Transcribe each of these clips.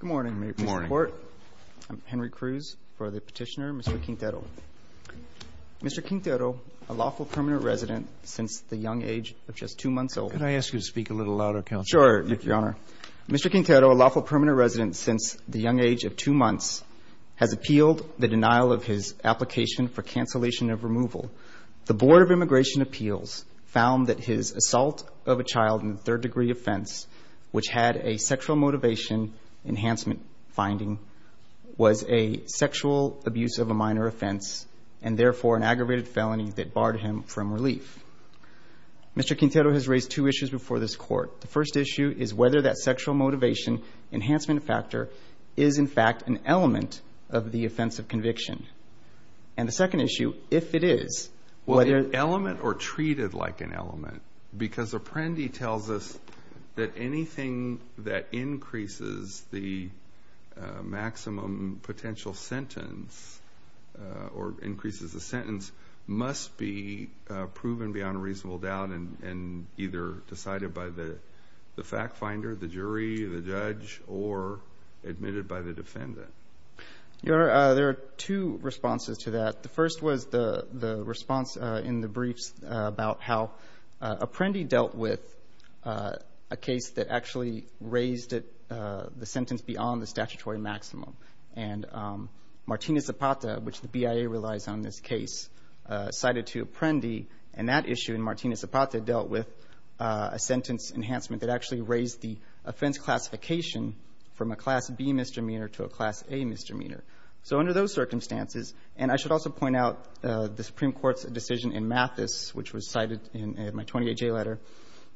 Good morning, Mr. Court. I'm Henry Cruz for the petitioner, Mr. Quintero. Mr. Quintero, a lawful permanent resident since the young age of just two months old. Could I ask you to speak a little louder, Counsel? Sure, Your Honor. Mr. Quintero, a lawful permanent resident since the young age of two months, has appealed the denial of his application for cancellation of removal. The Board of Immigration Appeals found that his assault of a child in a third-degree offense, which had a sexual motivation enhancement finding, was a sexual abuse of a minor offense and, therefore, an aggravated felony that barred him from relief. Mr. Quintero has raised two issues before this Court. The first issue is whether that sexual motivation enhancement factor is, in fact, an element of the offense of conviction. And the second issue, if it is, whether— or anything that increases the maximum potential sentence or increases the sentence must be proven beyond a reasonable doubt and either decided by the fact finder, the jury, the judge, or admitted by the defendant. Your Honor, there are two responses to that. The first was the response in the briefs about how Apprendi dealt with a case that actually raised the sentence beyond the statutory maximum. And Martina Zapata, which the BIA relies on in this case, cited to Apprendi. And that issue in Martina Zapata dealt with a sentence enhancement that actually raised the offense classification from a Class B misdemeanor to a Class A misdemeanor. So under those circumstances, and I should also point out the Supreme Court's decision in Mathis, which was cited in my 28-J letter,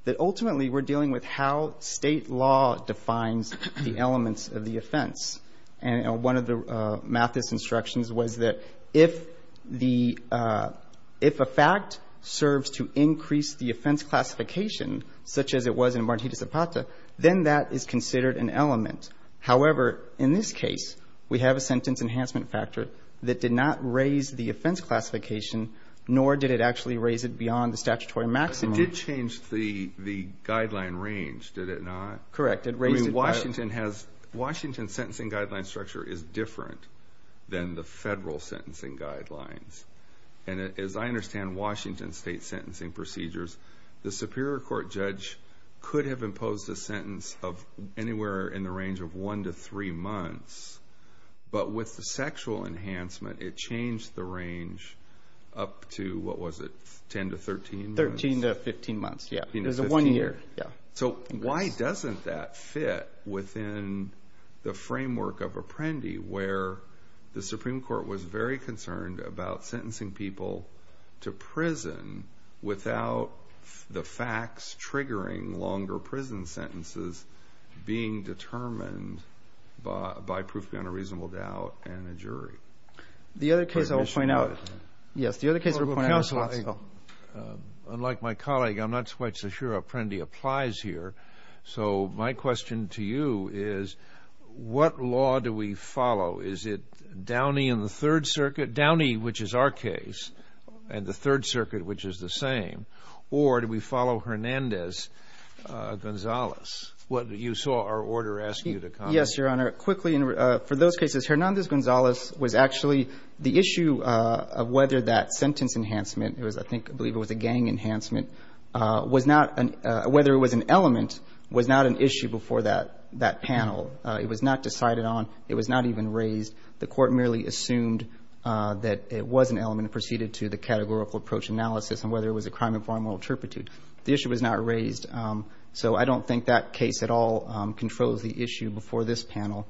that ultimately we're dealing with how State law defines the elements of the offense. And one of the Mathis instructions was that if the — if a fact serves to increase the offense classification, such as it was in Martina Zapata, then that is considered an element. However, in this case, we have a sentence enhancement factor that did not raise the offense classification, nor did it actually raise it beyond the statutory maximum. It did change the guideline range, did it not? Correct. I mean, Washington has — Washington's sentencing guideline structure is different than the Federal sentencing guidelines. And as I understand Washington State's sentencing procedures, the Superior Court judge could have imposed a sentence of anywhere in the range of 1 to 3 months. But with the sexual enhancement, it changed the range up to — what was it? 10 to 13 months? 13 to 15 months. Yeah. It was a one-year. Yeah. So why doesn't that fit within the framework of Apprendi, where the Supreme Court was very concerned about sentencing people to prison without the facts triggering longer prison sentences being determined by proof beyond a reasonable doubt and a jury? The other case I will point out — yes, the other case we're pointing out — Unlike my colleague, I'm not quite so sure Apprendi applies here. So my question to you is, what law do we follow? Is it Downey and the Third Circuit — Downey, which is our case, and the Third Circuit, which is the same? Or do we follow Hernandez-Gonzalez? What you saw our order asking you to comment. Yes, Your Honor. Quickly, for those cases, Hernandez-Gonzalez was actually — the issue of whether that sentence enhancement — it was, I think, I believe it was a gang enhancement — was not — whether it was an element was not an issue before that panel. It was not decided on. It was not even raised. The Court merely assumed that it was an element and proceeded to the categorical approach analysis on whether it was a crime of foreign moral turpitude. The issue was not raised. So I don't think that case at all controls the issue before this panel.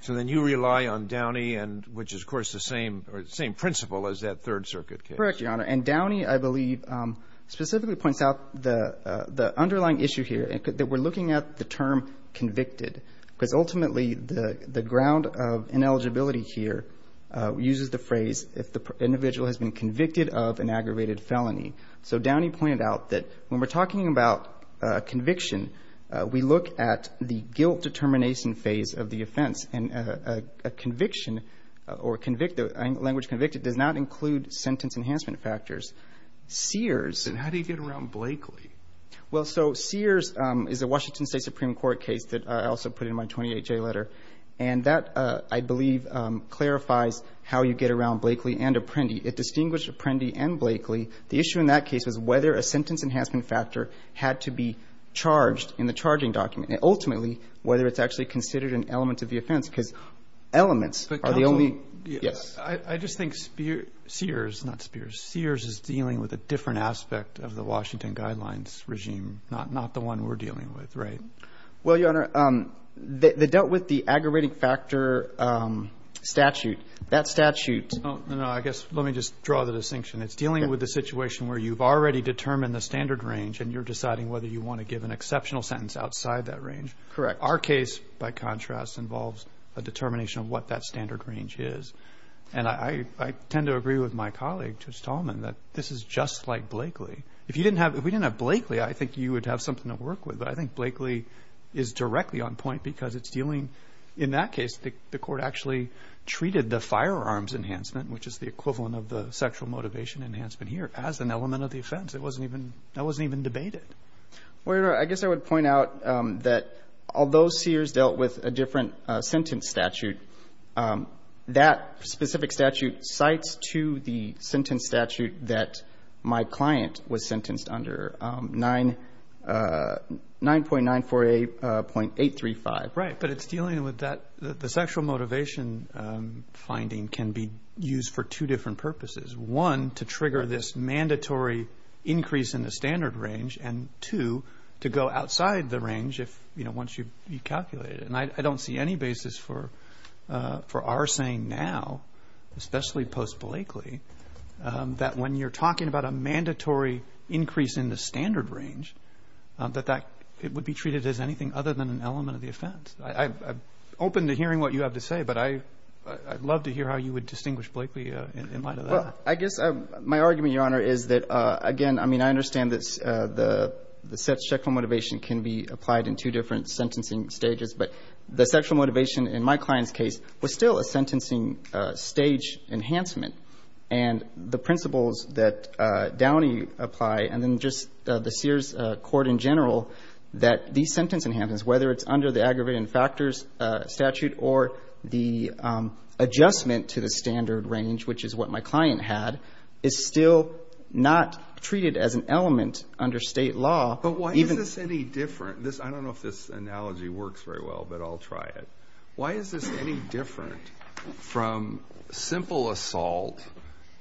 So then you rely on Downey and — which is, of course, the same principle as that Third Circuit case. Correct, Your Honor. And Downey, I believe, specifically points out the underlying issue here, that we're looking at the term convicted, because ultimately the ground of ineligibility here uses the phrase if the individual has been convicted of an aggravated felony. So Downey pointed out that when we're talking about conviction, we look at the guilt determination phase of the offense. And a conviction or language convicted does not include sentence enhancement factors. Sears — Then how do you get around Blakely? Well, so Sears is a Washington State Supreme Court case that I also put in my 28-J letter. And that, I believe, clarifies how you get around Blakely and Apprendi. It distinguished Apprendi and Blakely. The issue in that case was whether a sentence enhancement factor had to be charged in the charging document, and ultimately whether it's actually considered an element of the offense, because elements are the only — But counsel — Yes. I just think Sears — not Spears. Sears is dealing with a different aspect of the Washington Guidelines regime, not the one we're dealing with, right? Well, Your Honor, they dealt with the aggravating factor statute. That statute — No, no. I guess — let me just draw the distinction. It's dealing with a situation where you've already determined the standard range and you're deciding whether you want to give an exceptional sentence outside that range. Correct. Our case, by contrast, involves a determination of what that standard range is. And I tend to agree with my colleague, Judge Tallman, that this is just like Blakely. If you didn't have — if we didn't have Blakely, I think you would have something to work with. But I think Blakely is directly on point because it's dealing — in that case, the Court actually treated the firearms enhancement, which is the equivalent of the sexual motivation enhancement here, as an element of the offense. It wasn't even — that wasn't even debated. Well, Your Honor, I guess I would point out that although Sears dealt with a different sentence statute, that specific statute cites to the sentence statute that my client was sentenced under, 9.948.835. Right. But it's dealing with that — the sexual motivation finding can be used for two different purposes. One, to trigger this mandatory increase in the standard range, and two, to go outside the range if — you know, once you've calculated it. And I don't see any basis for our saying now, especially post-Blakely, that when you're talking about a mandatory increase in the standard range, that that — it would be treated as anything other than an element of the offense. I'm open to hearing what you have to say, but I'd love to hear how you would distinguish Blakely in light of that. Well, I guess my argument, Your Honor, is that, again, I mean, I understand that the sexual motivation can be applied in two different sentencing stages, but the sexual motivation in my client's case was still a sentencing stage enhancement. And the principles that Downey apply, and then just the Sears court in general, that these sentence enhancements, whether it's under the aggravated factors statute or the adjustment to the standard range, which is what my client had, is still not treated as an element under state law. But why is this any different? I don't know if this analogy works very well, but I'll try it. Why is this any different from simple assault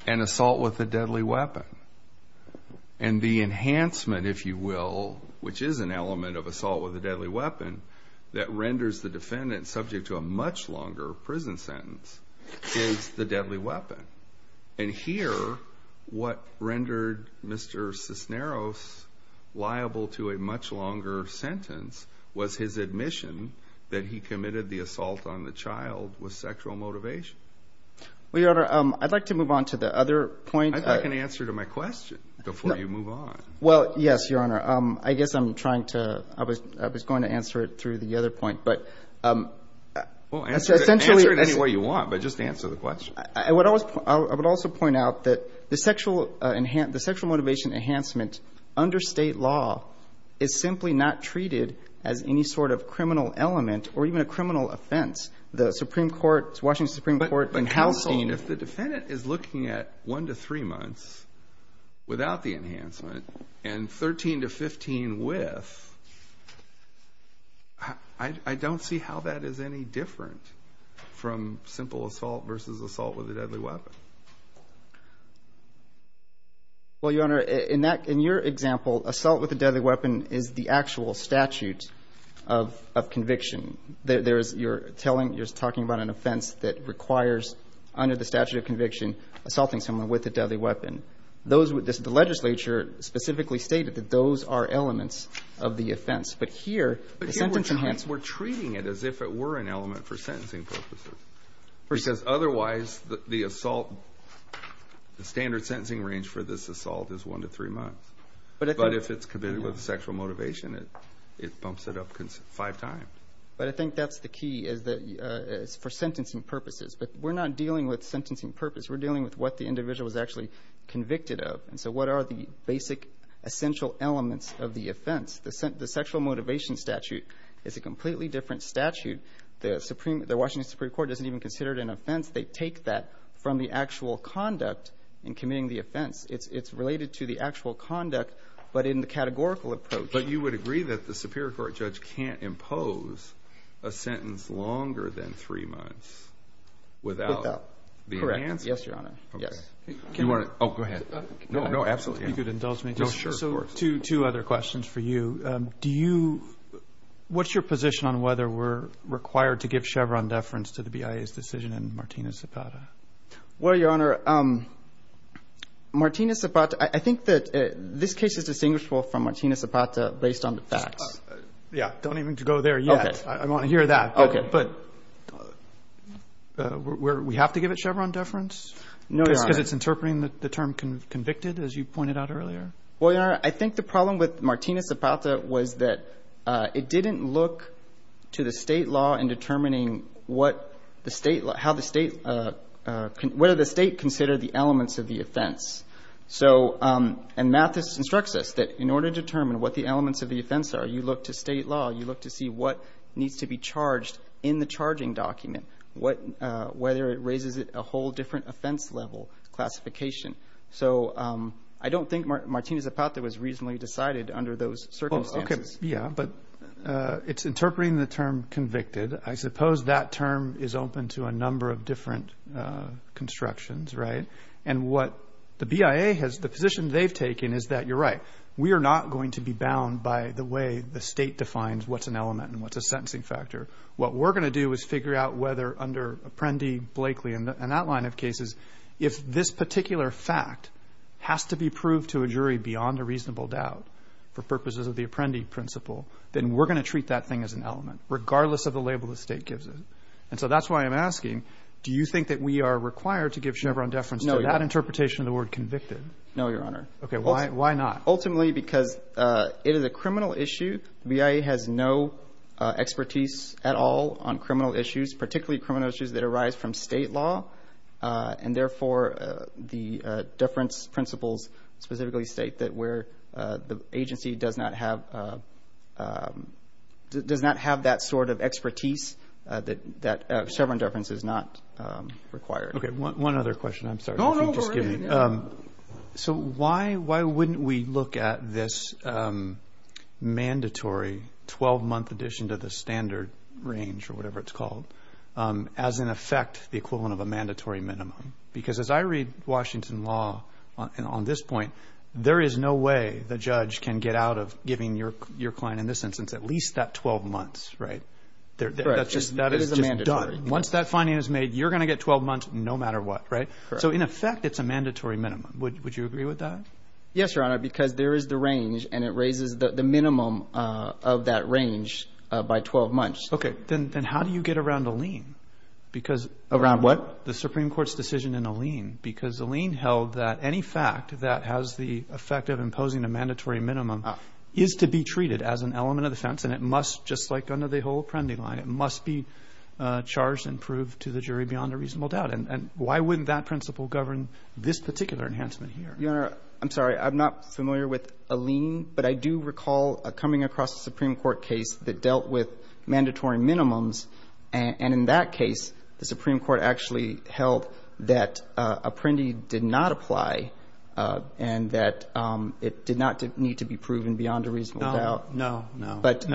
and assault with a deadly weapon? And the enhancement, if you will, which is an element of assault with a deadly weapon, that renders the defendant subject to a much longer prison sentence is the deadly weapon. And here, what rendered Mr. Cisneros liable to a much longer sentence was his admission that he committed the assault on the child with sexual motivation. Well, Your Honor, I'd like to move on to the other point. I can answer to my question before you move on. Well, yes, Your Honor. I guess I'm trying to, I was going to answer it through the other point, but... Well, answer it any way you want, but just answer the question. I would also point out that the sexual motivation enhancement under state law is simply not treated as any sort of criminal element or even a criminal offense. The Supreme Court, Washington Supreme Court in Halstein... But counsel, if the defendant is looking at 1 to 3 months without the enhancement and 13 to 15 with, I don't see how that is any different from simple assault versus assault with a deadly weapon. Well, Your Honor, in your example, assault with a deadly weapon is the actual statute of conviction. You're telling, you're talking about an offense that requires, under the statute of conviction, assaulting someone with a deadly weapon. The legislature specifically stated that those are elements of the offense. But here, the sentence enhancement... The assault, the standard sentencing range for this assault is 1 to 3 months. But if it's committed with sexual motivation, it bumps it up five times. But I think that's the key, is for sentencing purposes. But we're not dealing with sentencing purpose. We're dealing with what the individual is actually convicted of. And so what are the basic essential elements of the offense? The sexual motivation statute is a completely different statute. The Washington Supreme Court doesn't even consider it an offense. They take that from the actual conduct in committing the offense. It's related to the actual conduct, but in the categorical approach. But you would agree that the Superior Court judge can't impose a sentence longer than 3 months without the enhancement? Correct. Yes, Your Honor. Yes. Oh, go ahead. No, absolutely. If you could indulge me. Sure, of course. Two other questions for you. What's your position on whether we're required to give Chevron deference to the BIA's decision in Martina Zapata? Well, Your Honor, Martina Zapata, I think that this case is distinguishable from Martina Zapata based on the facts. Yeah, don't even go there yet. Okay. I want to hear that. Okay. But we have to give it Chevron deference? No, Your Honor. Because it's interpreting the term convicted, as you pointed out earlier? Well, Your Honor, I think the problem with Martina Zapata was that it didn't look to the state law in determining whether the state considered the elements of the offense. And Mathis instructs us that in order to determine what the elements of the offense are, you look to state law, you look to see what needs to be charged in the charging document, whether it raises a whole different offense level classification. So I don't think Martina Zapata was reasonably decided under those circumstances. Okay. Yeah, but it's interpreting the term convicted. I suppose that term is open to a number of different constructions, right? And what the BIA has, the position they've taken is that, you're right, we are not going to be bound by the way the state defines what's an element and what's a sentencing factor. What we're going to do is figure out whether under Apprendi, Blakely, and that line of cases, if this particular fact has to be proved to a jury beyond a reasonable doubt for purposes of the Apprendi principle, then we're going to treat that thing as an element, regardless of the label the state gives it. And so that's why I'm asking, do you think that we are required to give Chevron deference to that interpretation of the word convicted? No, Your Honor. Okay. Why not? Ultimately, because it is a criminal issue. The BIA has no expertise at all on criminal issues, particularly criminal issues that arise from state law, and therefore the deference principles specifically state that where the agency does not have that sort of expertise, that Chevron deference is not required. Okay. One other question. I'm sorry. No, no. So why wouldn't we look at this mandatory 12-month addition to the standard range, or whatever it's called, as, in effect, the equivalent of a mandatory minimum? Because as I read Washington law on this point, there is no way the judge can get out of giving your client, in this instance, at least that 12 months, right? That is just done. Once that finding is made, you're going to get 12 months no matter what, right? That's correct. So, in effect, it's a mandatory minimum. Would you agree with that? Yes, Your Honor, because there is the range, and it raises the minimum of that range by 12 months. Okay. Then how do you get around a lien? Around what? The Supreme Court's decision in a lien, because a lien held that any fact that has the effect of imposing a mandatory minimum is to be treated as an element of defense, and it must, just like under the whole Apprendi line, it must be charged and proved to the jury beyond a reasonable doubt. And why wouldn't that principle govern this particular enhancement here? Your Honor, I'm sorry. I'm not familiar with a lien, but I do recall coming across a Supreme Court case that dealt with mandatory minimums. And in that case, the Supreme Court actually held that Apprendi did not apply and that it did not need to be proven beyond a reasonable doubt. No, no, no. I'm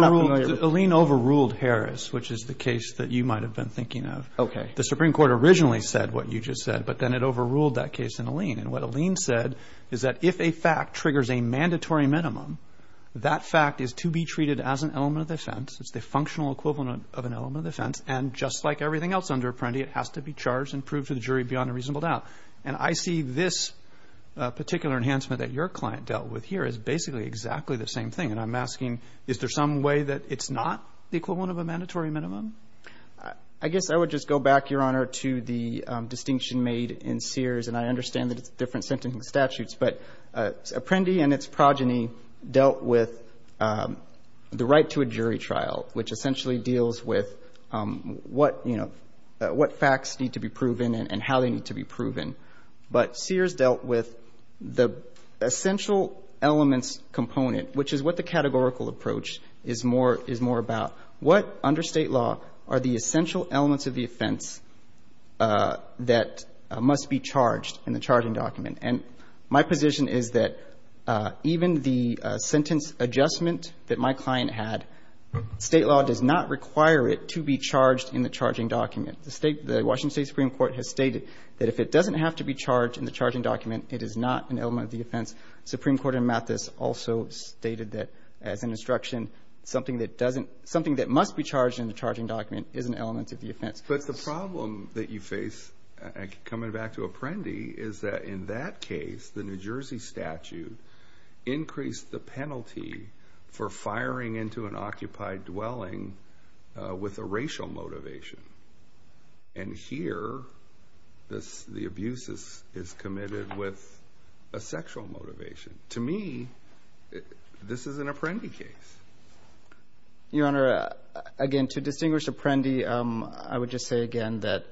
not familiar with that. A lien overruled Harris, which is the case that you might have been thinking of. The Supreme Court originally said what you just said, but then it overruled that case in a lien. And what a lien said is that if a fact triggers a mandatory minimum, that fact is to be treated as an element of defense. It's the functional equivalent of an element of defense. And just like everything else under Apprendi, it has to be charged and proved to the jury beyond a reasonable doubt. And I see this particular enhancement that your client dealt with here as basically exactly the same thing. And I'm asking, is there some way that it's not the equivalent of a mandatory minimum? I guess I would just go back, Your Honor, to the distinction made in Sears. And I understand that it's different sentencing statutes. But Apprendi and its progeny dealt with the right to a jury trial, which essentially deals with what, you know, what facts need to be proven and how they need to be proven. But Sears dealt with the essential elements component, which is what the categorical approach is more about. What under State law are the essential elements of the offense that must be charged in the charging document? And my position is that even the sentence adjustment that my client had, State law does not require it to be charged in the charging document. The Washington State Supreme Court has stated that if it doesn't have to be charged in the charging document, it is not an element of the offense. Supreme Court in Mathis also stated that, as an instruction, something that must be charged in the charging document is an element of the offense. But the problem that you face, coming back to Apprendi, is that in that case, the New Jersey statute increased the penalty for firing into an occupied dwelling with a racial motivation. And here, the abuse is committed with a sexual motivation. To me, this is an Apprendi case. Your Honor, again, to distinguish Apprendi, I would just say again that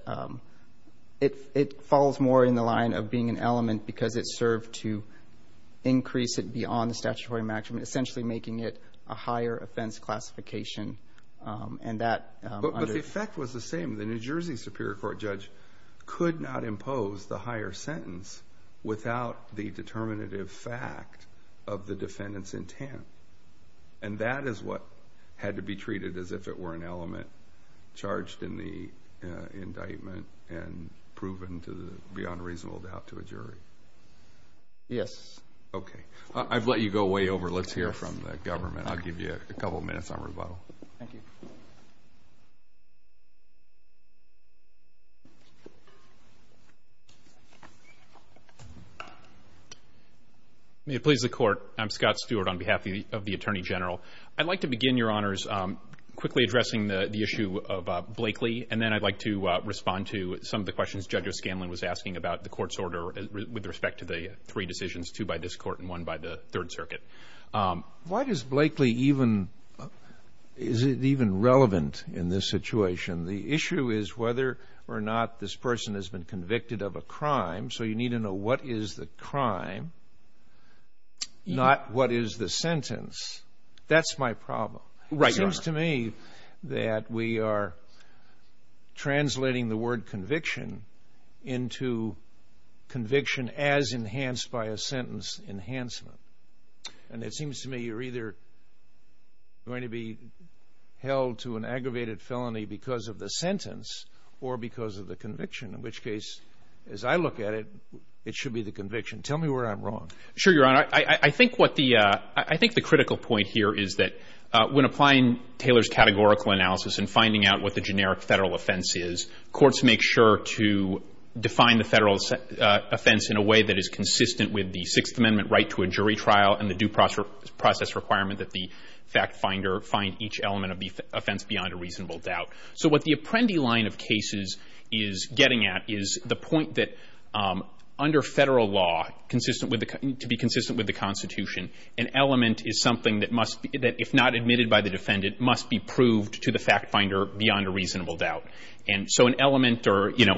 it falls more in the line of being an element because it served to increase it beyond the statutory maximum, essentially making it a higher offense classification. But the effect was the same. The New Jersey Superior Court judge could not impose the higher sentence without the determinative fact of the defendant's intent. And that is what had to be treated as if it were an element charged in the indictment and proven beyond reasonable doubt to a jury. Yes. Okay. I've let you go way over. Let's hear from the government. I'll give you a couple of minutes on rebuttal. Thank you. May it please the Court. I'm Scott Stewart on behalf of the Attorney General. I'd like to begin, Your Honors, quickly addressing the issue of Blakely. And then I'd like to respond to some of the questions Judge O'Scanlan was asking about the Court's order with respect to the three decisions, two by this Court and one by the Third Circuit. Why does Blakely even – is it even relevant in this situation? The issue is whether or not this person has been convicted of a crime. So you need to know what is the crime, not what is the sentence. That's my problem. Right, Your Honor. It seems to me that we are translating the word conviction into conviction as enhanced by a sentence enhancement. And it seems to me you're either going to be held to an aggravated felony because of the sentence or because of the conviction, in which case, as I look at it, it should be the conviction. Tell me where I'm wrong. Sure, Your Honor. I think the critical point here is that when applying Taylor's categorical analysis and finding out what the generic federal offense is, courts make sure to define the federal offense in a way that is consistent with the Sixth Amendment right to a jury trial and the due process requirement that the fact finder find each element of the offense beyond a reasonable doubt. So what the Apprendi line of cases is getting at is the point that, under federal law, to be consistent with the Constitution, an element is something that, if not admitted by the defendant, must be proved to the fact finder beyond a reasonable doubt. And so an element or, you know,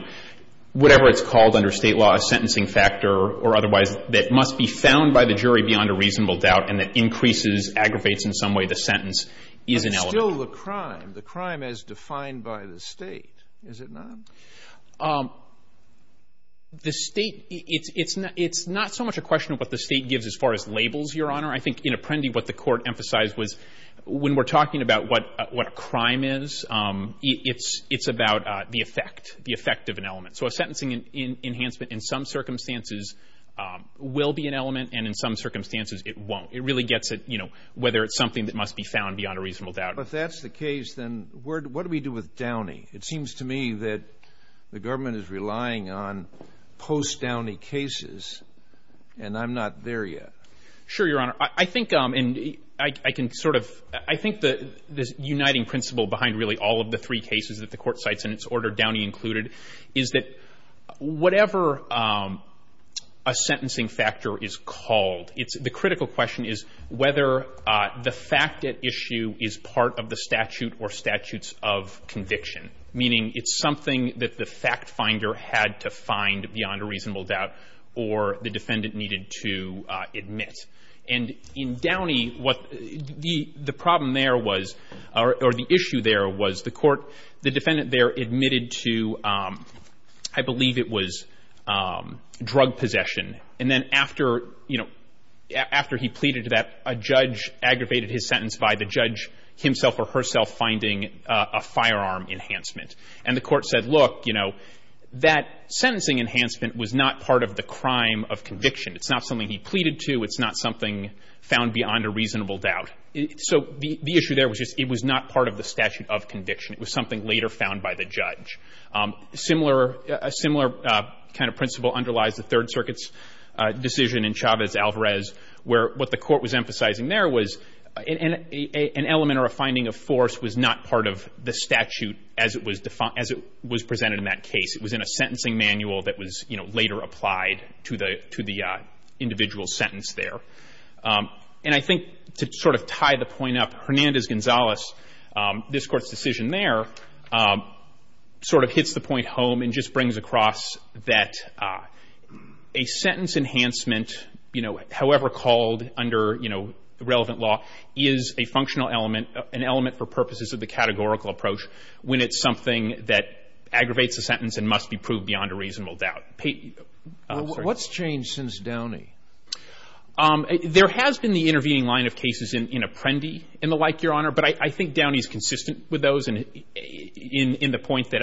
whatever it's called under state law, a sentencing factor or otherwise that must be found by the jury beyond a reasonable doubt and that increases, aggravates in some way the sentence is an element. It's still the crime, the crime as defined by the state, is it not? The state, it's not so much a question of what the state gives as far as labels, Your Honor. I think in Apprendi what the court emphasized was when we're talking about what a crime is, it's about the effect, the effect of an element. So a sentencing enhancement in some circumstances will be an element, and in some circumstances it won't. It really gets at, you know, whether it's something that must be found beyond a reasonable doubt. If that's the case, then what do we do with Downey? It seems to me that the government is relying on post-Downey cases, and I'm not there yet. Sure, Your Honor. I think, and I can sort of, I think the uniting principle behind really all of the three cases that the Court cites in its order, Downey included, is that whatever a sentencing factor is called, it's the critical question is whether the fact at issue is part of the statute or statutes of conviction, meaning it's something that the fact finder had to find beyond a reasonable doubt or the defendant needed to admit. And in Downey, what the problem there was, or the issue there was, the Court, the defendant there admitted to, I believe it was drug possession. And then after, you know, after he pleaded to that, a judge aggravated his sentence by the judge himself or herself finding a firearm enhancement. And the Court said, look, you know, that sentencing enhancement was not part of the crime of conviction. It's not something he pleaded to. It's not something found beyond a reasonable doubt. So the issue there was just it was not part of the statute of conviction. It was something later found by the judge. A similar kind of principle underlies the Third Circuit's decision in Chavez-Alvarez where what the Court was emphasizing there was an element or a finding of force was not part of the statute as it was presented in that case. It was in a sentencing manual that was, you know, later applied to the individual sentence there. And I think to sort of tie the point up, Hernandez-Gonzalez, this Court's decision there sort of hits the point home and just brings across that a sentence enhancement, you know, however called under, you know, the relevant law, is a functional element, an element for purposes of the categorical approach when it's something that aggravates a sentence and must be proved beyond a reasonable doubt. I'm sorry. Well, what's changed since Downey? There has been the intervening line of cases in Apprendi and the like, Your Honor. But I think Downey's consistent with those in the point that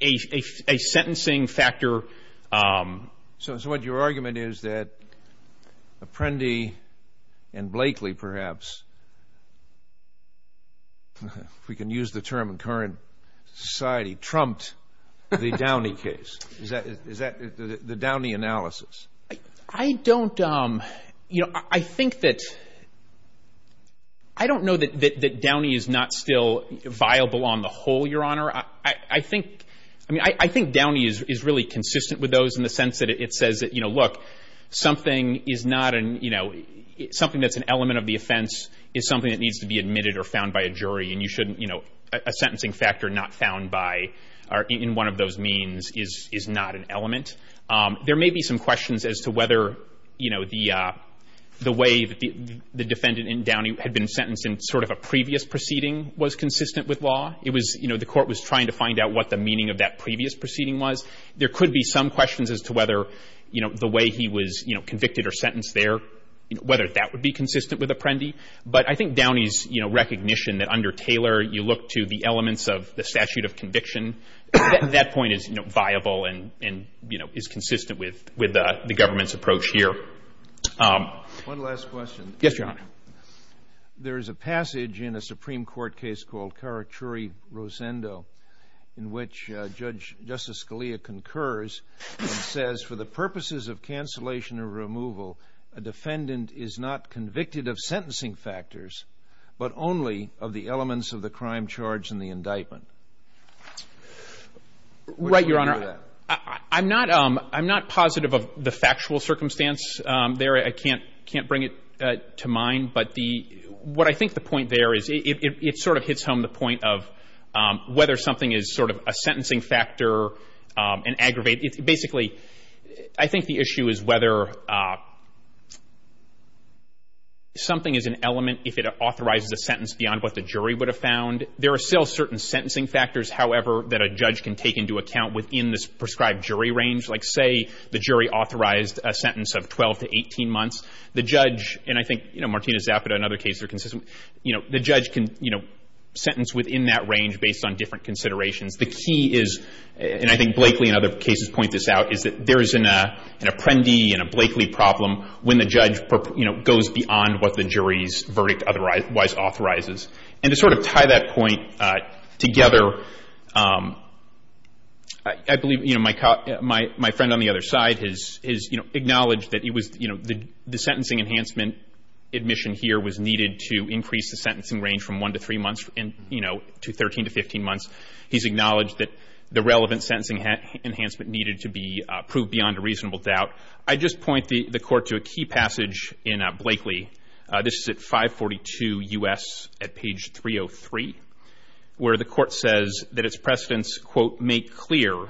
a sentencing factor So what your argument is that Apprendi and Blakely, perhaps, if we can use the term in current society, trumped the Downey case? Is that the Downey analysis? I don't know that Downey is not still viable on the whole, Your Honor. I think Downey is really consistent with those in the sense that it says, you know, look, something that's an element of the offense is something that needs to be admitted or found by a jury, and you shouldn't, you know, a sentencing factor not found by or in one of those means is not an element. There may be some questions as to whether, you know, the way the defendant in Downey had been sentenced in sort of a previous proceeding was consistent with law. It was, you know, the court was trying to find out what the meaning of that previous proceeding was. There could be some questions as to whether, you know, the way he was, you know, convicted or sentenced there, whether that would be consistent with Apprendi. But I think Downey's, you know, recognition that under Taylor you look to the elements of the statute of conviction, that point is, you know, viable and, you know, is consistent with the government's approach here. One last question. Yes, Your Honor. There is a passage in a Supreme Court case called Caracciurri-Rosendo in which Justice Scalia concurs and says, for the purposes of cancellation or removal, a defendant is not convicted of sentencing factors, but only of the elements of the crime charge and the indictment. Right, Your Honor. I'm not positive of the factual circumstance there. I can't bring it to mind. But what I think the point there is it sort of hits home the point of whether something is sort of a sentencing factor and aggravated. Basically, I think the issue is whether something is an element if it authorizes a sentence beyond what the jury would have found. There are still certain sentencing factors, however, that a judge can take into account within this prescribed jury range. Like, say, the jury authorized a sentence of 12 to 18 months. The judge, and I think, you know, Martina Zapata and other cases are consistent, you know, the judge can, you know, sentence within that range based on different considerations. The key is, and I think Blakely and other cases point this out, is that there is an apprendi and a Blakely problem when the judge, you know, goes beyond what the jury's verdict otherwise authorizes. And to sort of tie that point together, I believe, you know, my friend on the other side has, you know, acknowledged that it was, you know, the sentencing enhancement admission here was needed to increase the sentencing range from 1 to 3 months and, you know, to 13 to 15 months. He's acknowledged that the relevant sentencing enhancement needed to be proved beyond a reasonable doubt. I just point the Court to a key passage in Blakely. This is at 542 U.S. at page 303, where the Court says that its precedents, quote, make clear,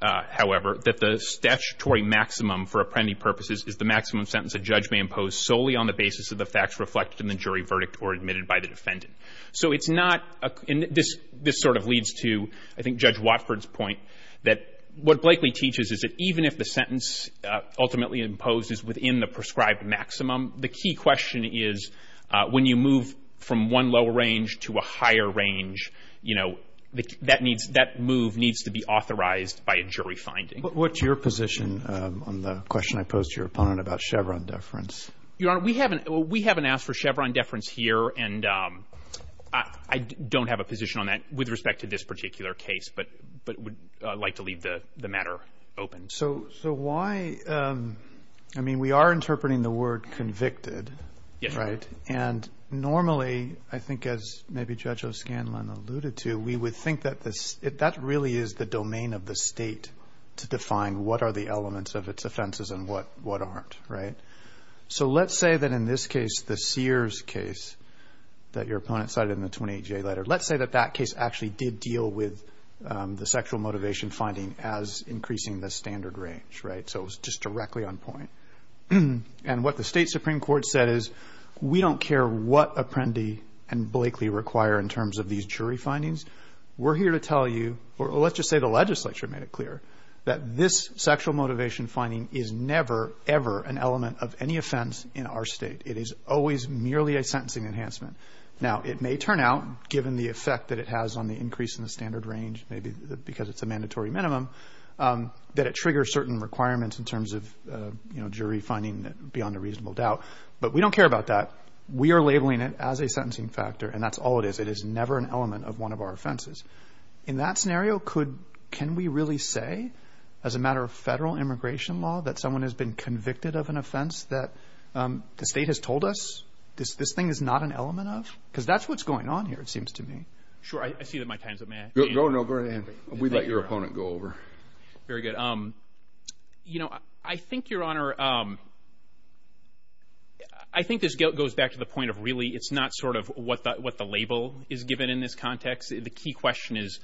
however, that the statutory maximum for apprendi purposes is the maximum sentence a judge may impose solely on the basis of the facts reflected in the jury verdict or admitted by the defendant. So it's not a – and this sort of leads to, I think, Judge Watford's point that what Blakely teaches is that even if the sentence ultimately imposed is within the prescribed maximum, the key question is when you move from one lower range to a higher range, you know, that needs – that move needs to be authorized by a jury finding. But what's your position on the question I posed to your opponent about Chevron deference? Your Honor, we haven't – we haven't asked for Chevron deference here. And I don't have a position on that with respect to this particular case, but would like to leave the matter open. So why – I mean, we are interpreting the word convicted, right? Yes. And normally, I think as maybe Judge O'Scanlan alluded to, we would think that this – that really is the domain of the State to define what are the elements of its offenses and what aren't, right? So let's say that in this case, the Sears case that your opponent cited in the 28-J letter, let's say that that case actually did deal with the sexual motivation finding as increasing the standard range, right? So it was just directly on point. And what the State Supreme Court said is we don't care what Apprendi and Blakely require in terms of these jury findings. We're here to tell you – or let's just say the legislature made it clear that this sexual motivation finding is never, ever an element of any offense in our State. It is always merely a sentencing enhancement. Now, it may turn out, given the effect that it has on the increase in the standard range, maybe because it's a mandatory minimum, that it triggers certain requirements in terms of jury finding beyond a reasonable doubt. But we don't care about that. We are labeling it as a sentencing factor, and that's all it is. It is never an element of one of our offenses. In that scenario, can we really say, as a matter of federal immigration law, that someone has been convicted of an offense that the State has told us this thing is not an element of? Because that's what's going on here, it seems to me. Sure, I see that my time's up. May I? No, no, go right ahead. We let your opponent go over. Very good. You know, I think, Your Honor, I think this goes back to the point of really it's not sort of what the label is given in this context. The key question is,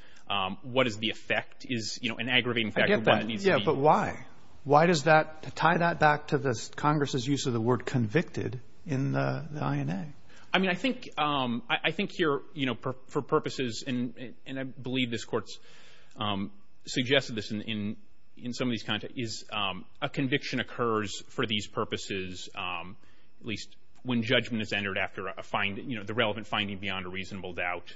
what is the effect? Is an aggravating factor what it needs to be? Yeah, but why? Why does that tie that back to Congress's use of the word convicted in the INA? I mean, I think here, you know, for purposes, and I believe this Court's suggested this in some of these contexts, is a conviction occurs for these purposes, at least when judgment is entered after a finding, you know, the relevant finding beyond a reasonable doubt,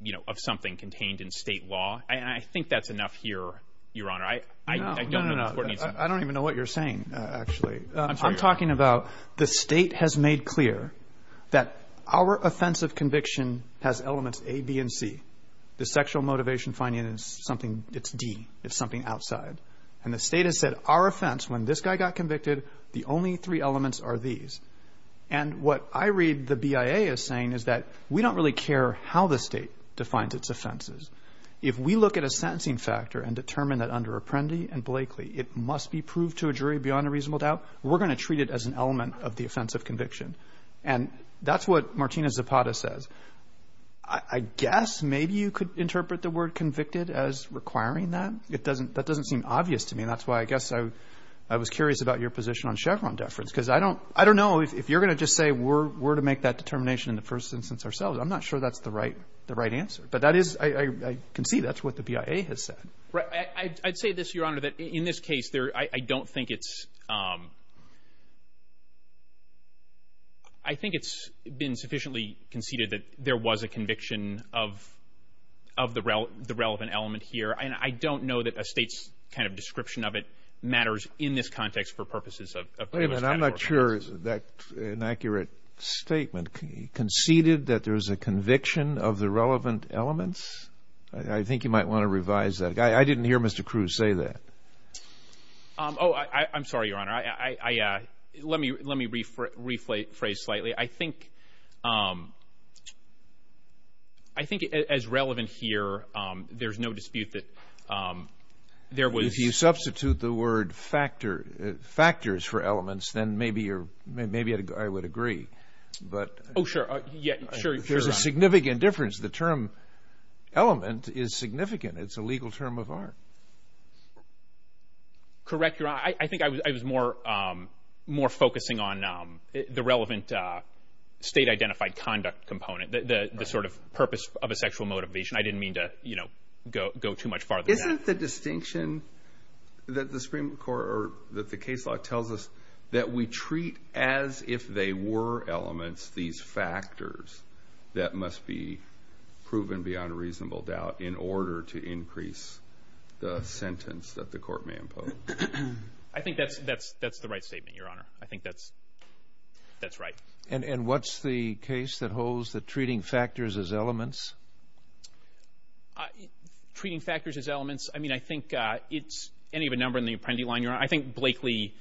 you know, of something contained in State law. I think that's enough here, Your Honor. No, no, no, I don't even know what you're saying, actually. I'm talking about the State has made clear that our offense of conviction has elements A, B, and C. The sexual motivation finding is something, it's D, it's something outside. And the State has said our offense, when this guy got convicted, the only three elements are these. And what I read the BIA as saying is that we don't really care how the State defines its offenses. If we look at a sentencing factor and determine that under Apprendi and Blakely, it must be proved to a jury beyond a reasonable doubt, we're going to treat it as an element of the offense of conviction. And that's what Martina Zapata says. I guess maybe you could interpret the word convicted as requiring that. That doesn't seem obvious to me, and that's why I guess I was curious about your position on Chevron deference, because I don't know if you're going to just say we're to make that determination in the first instance ourselves. I'm not sure that's the right answer. But I can see that's what the BIA has said. I'd say this, Your Honor, that in this case, I don't think it's been sufficiently conceded that there was a conviction of the relevant element here. And I don't know that a State's kind of description of it matters in this context for purposes of Wait a minute, I'm not sure that's an accurate statement. Conceded that there's a conviction of the relevant elements? I think you might want to revise that. I didn't hear Mr. Cruz say that. Oh, I'm sorry, Your Honor. Let me rephrase slightly. I think as relevant here, there's no dispute that there was If you substitute the word factors for elements, then maybe I would agree. Oh, sure. There's a significant difference. The term element is significant. It's a legal term of art. Correct, Your Honor. I think I was more focusing on the relevant State-identified conduct component, the sort of purpose of a sexual motivation. I didn't mean to go too much farther than that. Isn't the distinction that the Supreme Court or that the case law tells us that we treat as if they were elements these factors that must be proven beyond a reasonable doubt in order to increase the sentence that the court may impose? I think that's the right statement, Your Honor. I think that's right. And what's the case that holds that treating factors as elements? Treating factors as elements? I mean, I think it's any of a number in the Apprendi line, Your Honor. I think Blakely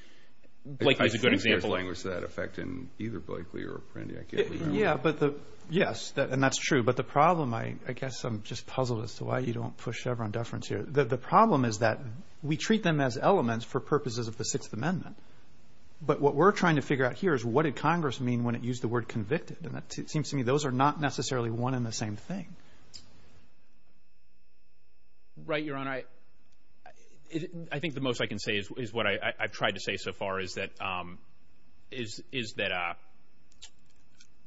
is a good example. I think there's language to that effect in either Blakely or Apprendi. I can't remember. Yes, and that's true. But the problem, I guess I'm just puzzled as to why you don't push Chevron deference here. The problem is that we treat them as elements for purposes of the Sixth Amendment. But what we're trying to figure out here is what did Congress mean when it used the word convicted? And it seems to me those are not necessarily one and the same thing. Right, Your Honor. I think the most I can say is what I've tried to say so far is that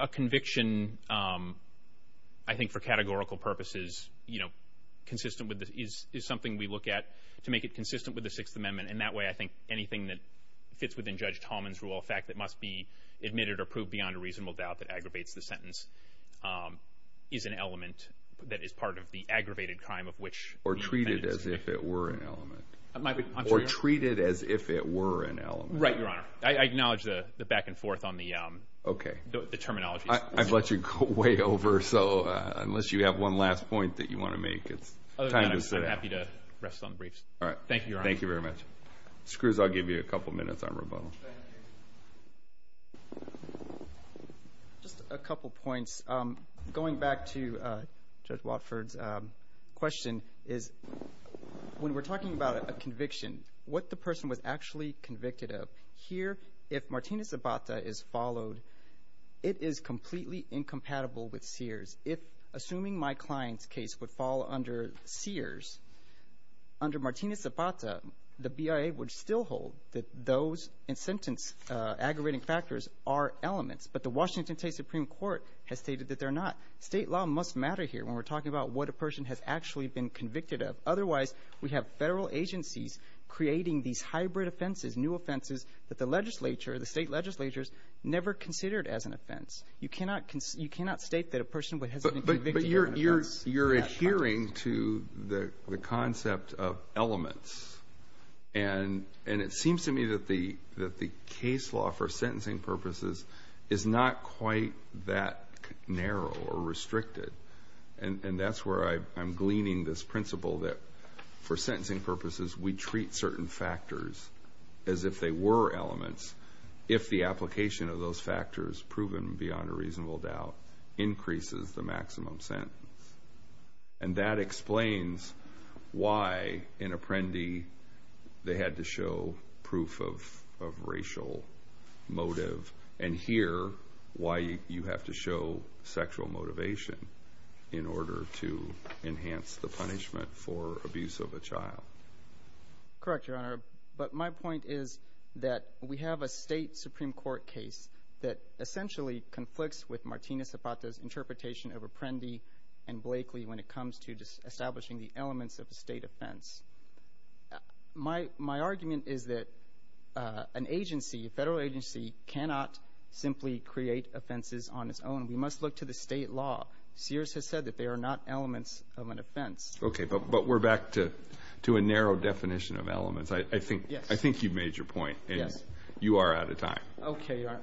a conviction, I think, for categorical purposes is something we look at to make it consistent with the Sixth Amendment. And that way I think anything that fits within Judge Tallman's rule, a fact that must be admitted or proved beyond a reasonable doubt that aggravates the sentence, is an element that is part of the aggravated crime of which the defendant is convicted. Or treated as if it were an element. Or treated as if it were an element. Right, Your Honor. I acknowledge the back and forth on the terminology. I've let you go way over, so unless you have one last point that you want to make, it's time to sit down. I'm happy to rest on the briefs. All right. Thank you, Your Honor. Thank you very much. Mr. Cruz, I'll give you a couple minutes on rebuttal. Thank you. Just a couple points. Going back to Judge Watford's question is when we're talking about a conviction, what the person was actually convicted of. Here, if Martina Zabata is followed, it is completely incompatible with Sears. If, assuming my client's case would fall under Sears, under Martina Zabata, the BIA would still hold that those in sentence aggravating factors are elements. But the Washington State Supreme Court has stated that they're not. State law must matter here when we're talking about what a person has actually been convicted of. Otherwise, we have federal agencies creating these hybrid offenses, new offenses that the legislature, the state legislatures, never considered as an offense. You cannot state that a person has been convicted of an offense. But you're adhering to the concept of elements. And it seems to me that the case law for sentencing purposes is not quite that narrow or restricted. And that's where I'm gleaning this principle that for sentencing purposes, we treat certain factors as if they were elements if the application of those factors, proven beyond a reasonable doubt, increases the maximum sentence. And that explains why in Apprendi they had to show proof of racial motive and here why you have to show sexual motivation in order to enhance the punishment for abuse of a child. Correct, Your Honor. But my point is that we have a state Supreme Court case that essentially conflicts with Martina Zabata's interpretation of Apprendi and Blakely when it comes to establishing the elements of a state offense. My argument is that an agency, a federal agency, cannot simply create offenses on its own. We must look to the state law. Sears has said that they are not elements of an offense. Okay, but we're back to a narrow definition of elements. I think you've made your point. You are out of time. Okay, Your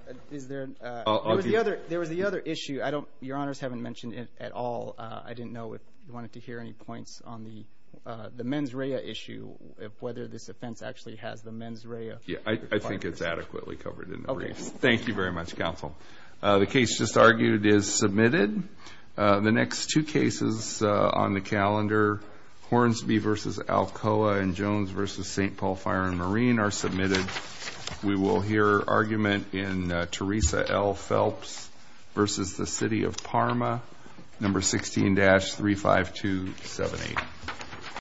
Honor. There was the other issue. Your Honors haven't mentioned it at all. I didn't know if you wanted to hear any points on the mens rea issue, whether this offense actually has the mens rea. Yeah, I think it's adequately covered in the briefs. Thank you very much, Counsel. The case just argued is submitted. The next two cases on the calendar, Hornsby v. Alcoa and Jones v. St. Paul Fire and Marine are submitted. We will hear argument in Teresa L. Phelps v. the City of Parma. Number 16-35278.